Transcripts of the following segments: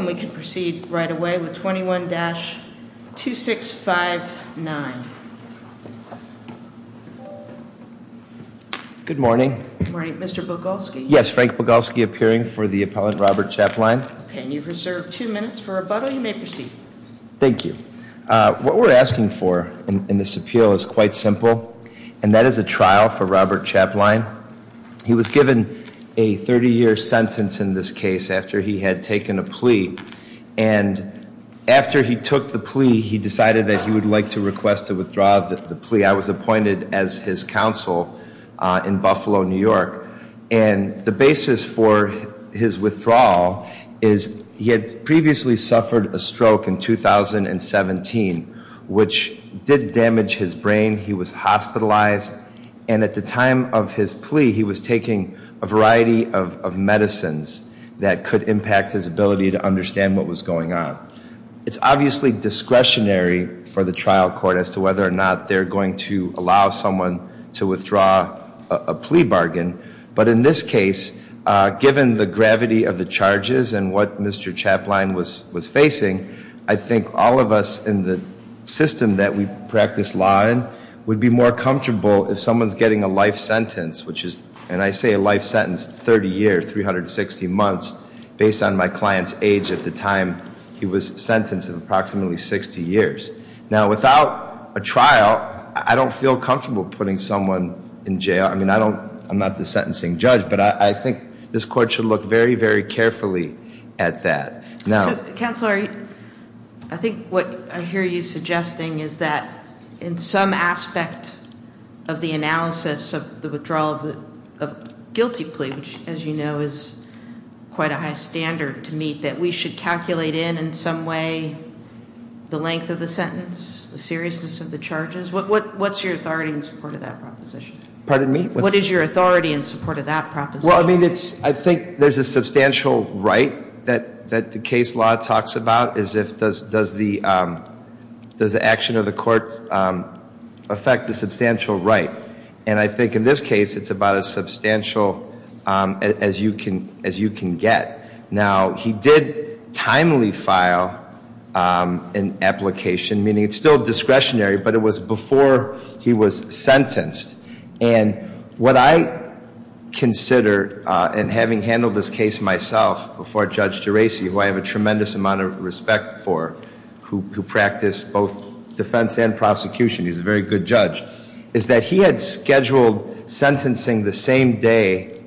and we can proceed right away with 21-2659. Good morning. Good morning. Mr. Bogolsky. Yes. Frank Bogolsky appearing for the appellant Robert Chapline. Okay. And you've reserved two minutes for rebuttal. You may proceed. Thank you. What we're asking for in this appeal is quite simple, and that is a trial for Robert Chapline. He was given a 30-year sentence in this case after he had taken a plea. And after he took the plea, he decided that he would like to request a withdrawal of the plea. I was appointed as his counsel in Buffalo, New York. And the basis for his withdrawal is he had previously suffered a stroke in 2017, which did damage his brain. He was hospitalized. And at the time of his plea, he was taking a variety of medicines that could impact his ability to understand what was going on. It's obviously discretionary for the trial court as to whether or not they're going to allow someone to withdraw a plea bargain. But in this case, given the gravity of the charges and what Mr. Chapline was facing, I think all of us in the system that we practice law in would be more comfortable if someone's getting a life sentence, which is, and I say a life sentence, 30 years, 360 months, based on my client's age at the time he was sentenced of approximately 60 years. Now without a trial, I don't feel comfortable putting someone in jail. I mean, I don't, I'm not the sentencing judge, but I think this court should look very, very carefully at that. So, Counselor, I think what I hear you suggesting is that in some aspect of the analysis of the withdrawal of guilty plea, which, as you know, is quite a high standard to meet, that we should calculate in, in some way, the length of the sentence, the seriousness of the charges. What's your authority in support of that proposition? Pardon me? What is your authority in support of that proposition? Well, I mean, it's, I think there's a substantial right that, that the case law talks about is if, does, does the, does the action of the court affect the substantial right? And I think in this case, it's about as substantial as you can, as you can get. Now he did timely file an application, meaning it's still discretionary, but it was before he was sentenced. And what I consider, and having handled this case myself before Judge Geraci, who I have a tremendous amount of respect for, who, who practiced both defense and prosecution, he's a very good judge, is that he had scheduled sentencing the same day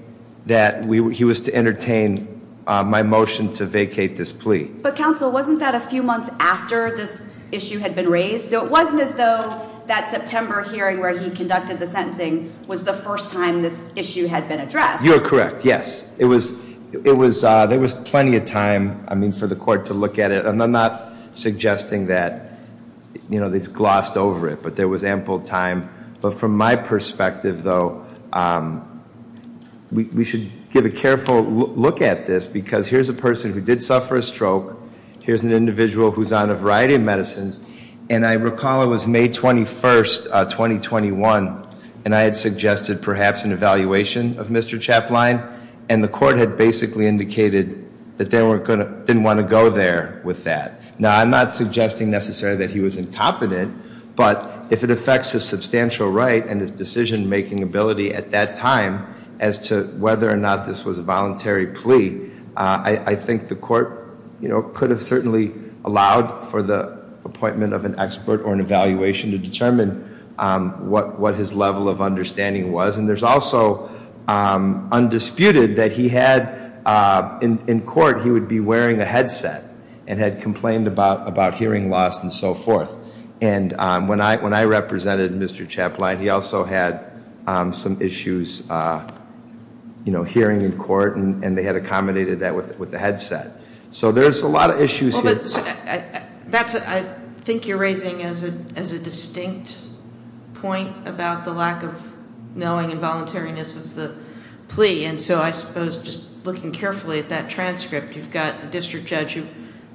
that we, he was to entertain my motion to vacate this plea. But Counsel, wasn't that a few months after this issue had been raised? So it wasn't as though that September hearing where he conducted the sentencing was the first time this issue had been addressed. You're correct, yes. It was, it was, there was plenty of time, I mean, for the court to look at it. And I'm not suggesting that, you know, they've glossed over it, but there was ample time. But from my perspective, though, we, we should give a careful look at this because here's a person who did suffer a stroke. Here's an individual who's on a variety of medicines. And I recall it was May 21st, 2021. And I had suggested perhaps an evaluation of Mr. Chapline. And the court had basically indicated that they weren't going to, didn't want to go there with that. Now, I'm not suggesting necessarily that he was incompetent, but if it affects his substantial right and his decision-making ability at that time as to whether or not this was a voluntary plea, I think the court, you know, could have certainly allowed for the appointment of an expert or an evaluation to determine what, what his level of understanding was. And there's also undisputed that he had, in court, he would be wearing a headset and had complained about, about hearing loss and so forth. And when I, when I represented Mr. Chapline, he also had some issues, you know, hearing in court, and they had accommodated that with, with the headset. So there's a lot of issues here. Well, but that's, I think you're raising as a, as a distinct point about the lack of knowing and voluntariness of the plea. And so I suppose just looking carefully at that transcript, you've got the district judge who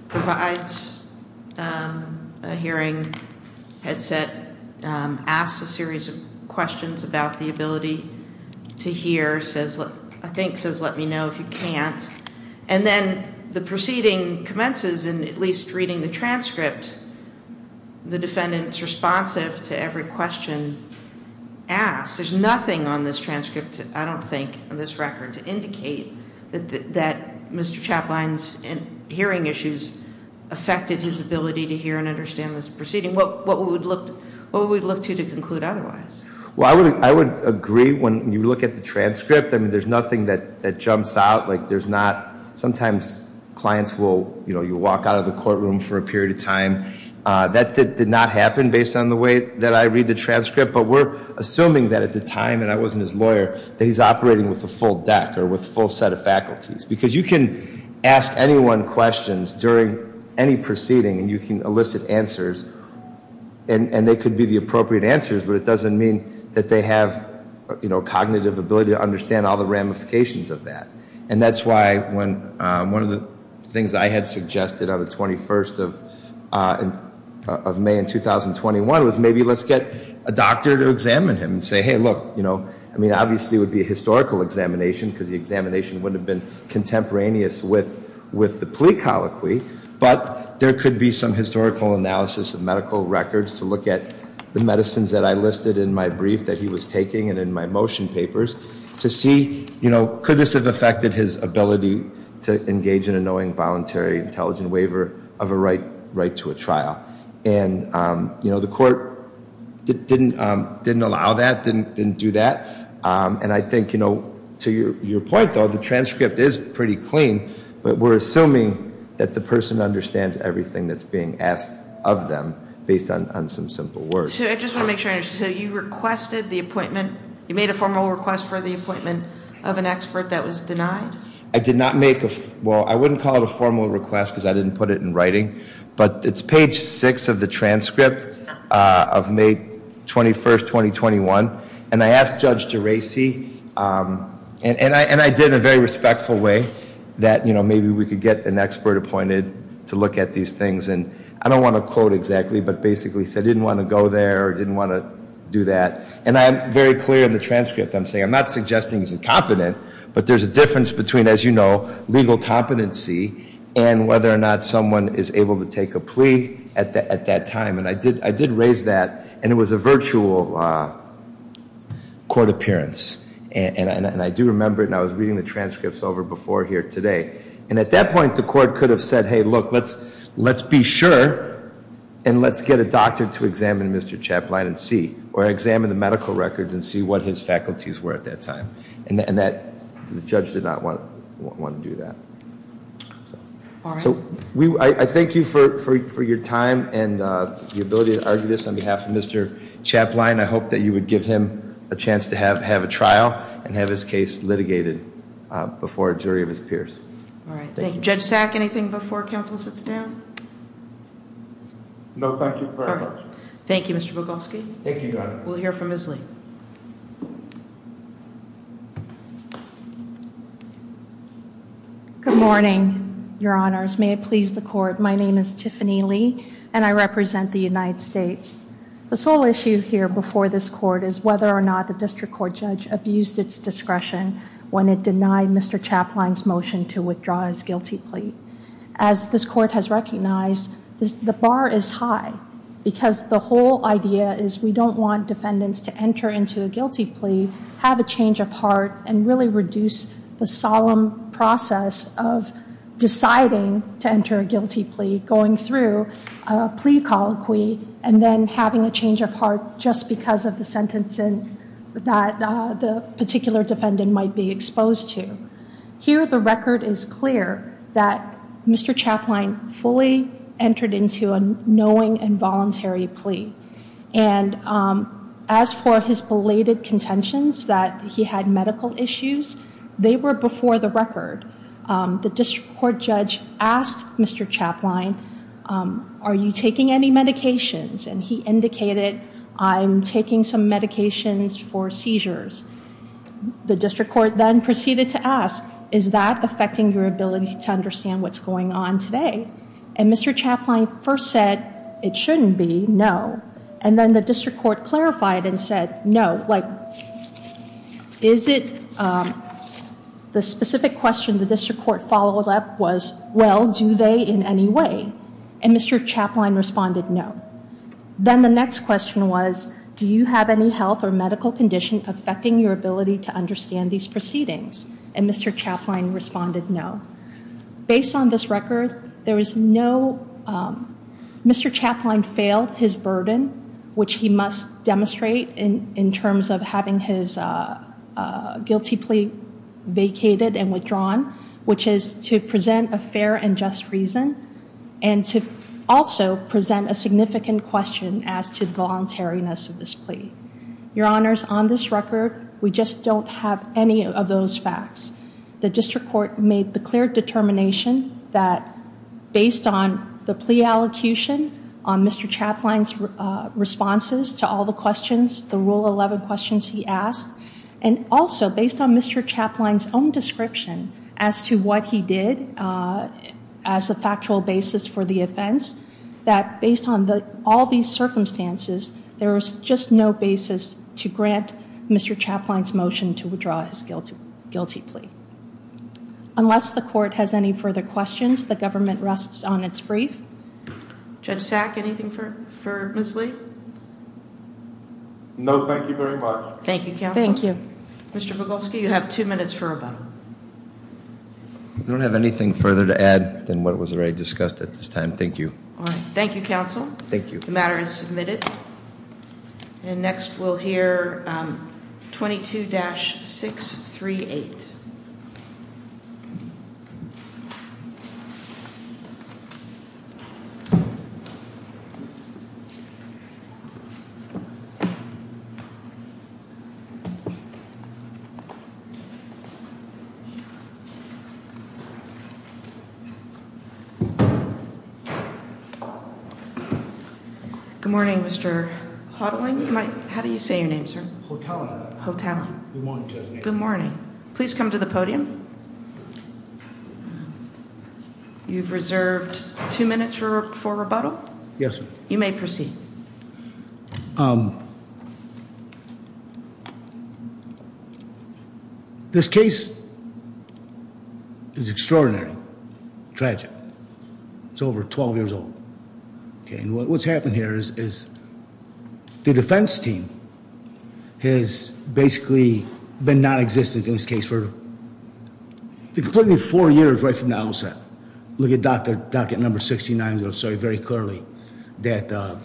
provides a hearing headset, asks a series of questions about the ability to hear, says, I think says, let me know if you can't. And then the proceeding commences in at least reading the transcript. The defendant's responsive to every question asked. There's nothing on this transcript, I don't think, on this record to indicate that Mr. Chapline's hearing issues affected his ability to hear and understand this proceeding. What, what would we look, what would we look to to conclude otherwise? Well, I would, I would agree when you look at the transcript, I mean, there's nothing that, that jumps out, like there's not, sometimes clients will, you know, you walk out of the courtroom for a period of time. That did not happen based on the way that I read the transcript. But we're assuming that at the time, and I wasn't his lawyer, that he's operating with a full deck or with a full set of faculties. Because you can ask anyone questions during any proceeding, and you can elicit answers. And, and they could be the appropriate answers, but it doesn't mean that they have, you know, cognitive ability to understand all the ramifications of that. And that's why when, one of the things I had suggested on the 21st of, of May in 2021 was, maybe let's get a doctor to examine him and say, hey, look, you know, I mean obviously it would be a historical examination, because the examination wouldn't have been contemporaneous with, with the plea colloquy. But there could be some historical analysis of medical records to look at the medicines that I listed in my brief that he was taking and in my motion papers to see, you know, could this have affected his ability to engage in a knowing voluntary intelligent waiver of a right, right to a trial. And, you know, the court didn't, didn't allow that, didn't, didn't do that. And I think, you know, to your, your point though, the transcript is pretty clean. But we're assuming that the person understands everything that's being asked of them based on, on some simple words. So I just want to make sure I understand, so you requested the appointment, you made a formal request for the appointment of an expert that was denied? I did not make a, well, I wouldn't call it a formal request because I didn't put it in writing. But it's page six of the transcript of May 21st, 2021. And I asked Judge Geraci, and I, and I did it in a very respectful way that, you know, maybe we could get an expert appointed to look at these things. And I don't want to quote exactly, but basically he said he didn't want to go there or didn't want to do that. And I'm very clear in the transcript. I'm saying I'm not suggesting he's incompetent, but there's a difference between, as you know, legal competency and whether or not someone is able to take a plea at, at that time. And I did, I did raise that, and it was a virtual court appearance. And, and I do remember it, and I was reading the transcripts over before here today. And at that point, the court could have said, hey, look, let's, let's be sure, and let's get a doctor to examine Mr. Chaplin and see, or examine the medical records and see what his faculties were at that time. And that, the judge did not want, want to do that. So, we, I, I thank you for, for, for your time and the ability to argue this on behalf of Mr. Chaplin. I hope that you would give him a chance to have, have a trial and have his case litigated before a jury of his peers. All right. Thank you. Judge Sack, anything before council sits down? No, thank you very much. Thank you, Mr. Bogolsky. Thank you, Your Honor. We'll hear from Ms. Lee. Good morning, Your Honors. May it please the court, my name is Tiffany Lee, and I represent the United States. The sole issue here before this court is whether or not the district court judge abused its discretion when it denied Mr. Chaplin's motion to withdraw his guilty plea. As this court has recognized, this, the bar is high because the whole idea is we don't want defendants to enter into a guilty plea, have a change of heart, and really reduce the solemn process of deciding to enter a guilty plea going through a plea colloquy and then having a change of heart just because of the sentencing that the particular defendant might be exposed to. Here the record is clear that Mr. Chaplin fully entered into a knowing and voluntary plea. And as for his belated contentions that he had medical issues, they were before the record. The district court judge asked Mr. Chaplin, are you taking any medications? And he indicated, I'm taking some medications for seizures. The district court then proceeded to ask, is that affecting your ability to understand what's going on today? And Mr. Chaplin first said, it shouldn't be, no. And then the district court clarified and said, no. Like, is it, the specific question the district court followed up was, well, do they in any way? And Mr. Chaplin responded, no. Then the next question was, do you have any health or medical condition affecting your ability to understand these proceedings? And Mr. Chaplin responded, no. Based on this record, there was no, Mr. Chaplin failed his burden, which he must demonstrate in terms of having his guilty plea vacated and withdrawn. Which is to present a fair and just reason. And to also present a significant question as to the voluntariness of this plea. Your honors, on this record, we just don't have any of those facts. The district court made the clear determination that, based on the plea allocution, on Mr. Chaplin's responses to all the questions, the rule 11 questions he asked, and also based on Mr. Chaplin's own description as to what he did as a factual basis for the offense. That based on all these circumstances, there was just no basis to grant Mr. Chaplin's motion to withdraw his guilty plea. Unless the court has any further questions, the government rests on its brief. Judge Sack, anything for Ms. Lee? No, thank you very much. Thank you, counsel. Thank you. Mr. Bogulski, you have two minutes for rebuttal. I don't have anything further to add than what was already discussed at this time. Thank you. All right. Thank you, counsel. Thank you. The matter is submitted. And next we'll hear 22-638. Good morning, Mr. Hodling. How do you say your name, sir? Hotelling. Hotelling. Good morning, Judge Nagle. Thank you. Thank you. Thank you. Thank you. Thank you. Please come to the podium. You've reserved two minutes for rebuttal. Yes, ma'am. You may proceed. This case is extraordinary, tragic. It's over 12 years old. What's happened here is the defense team has basically been non-existent in this case for completely four years right from the outset. Look at docket number 69. They'll say very clearly that.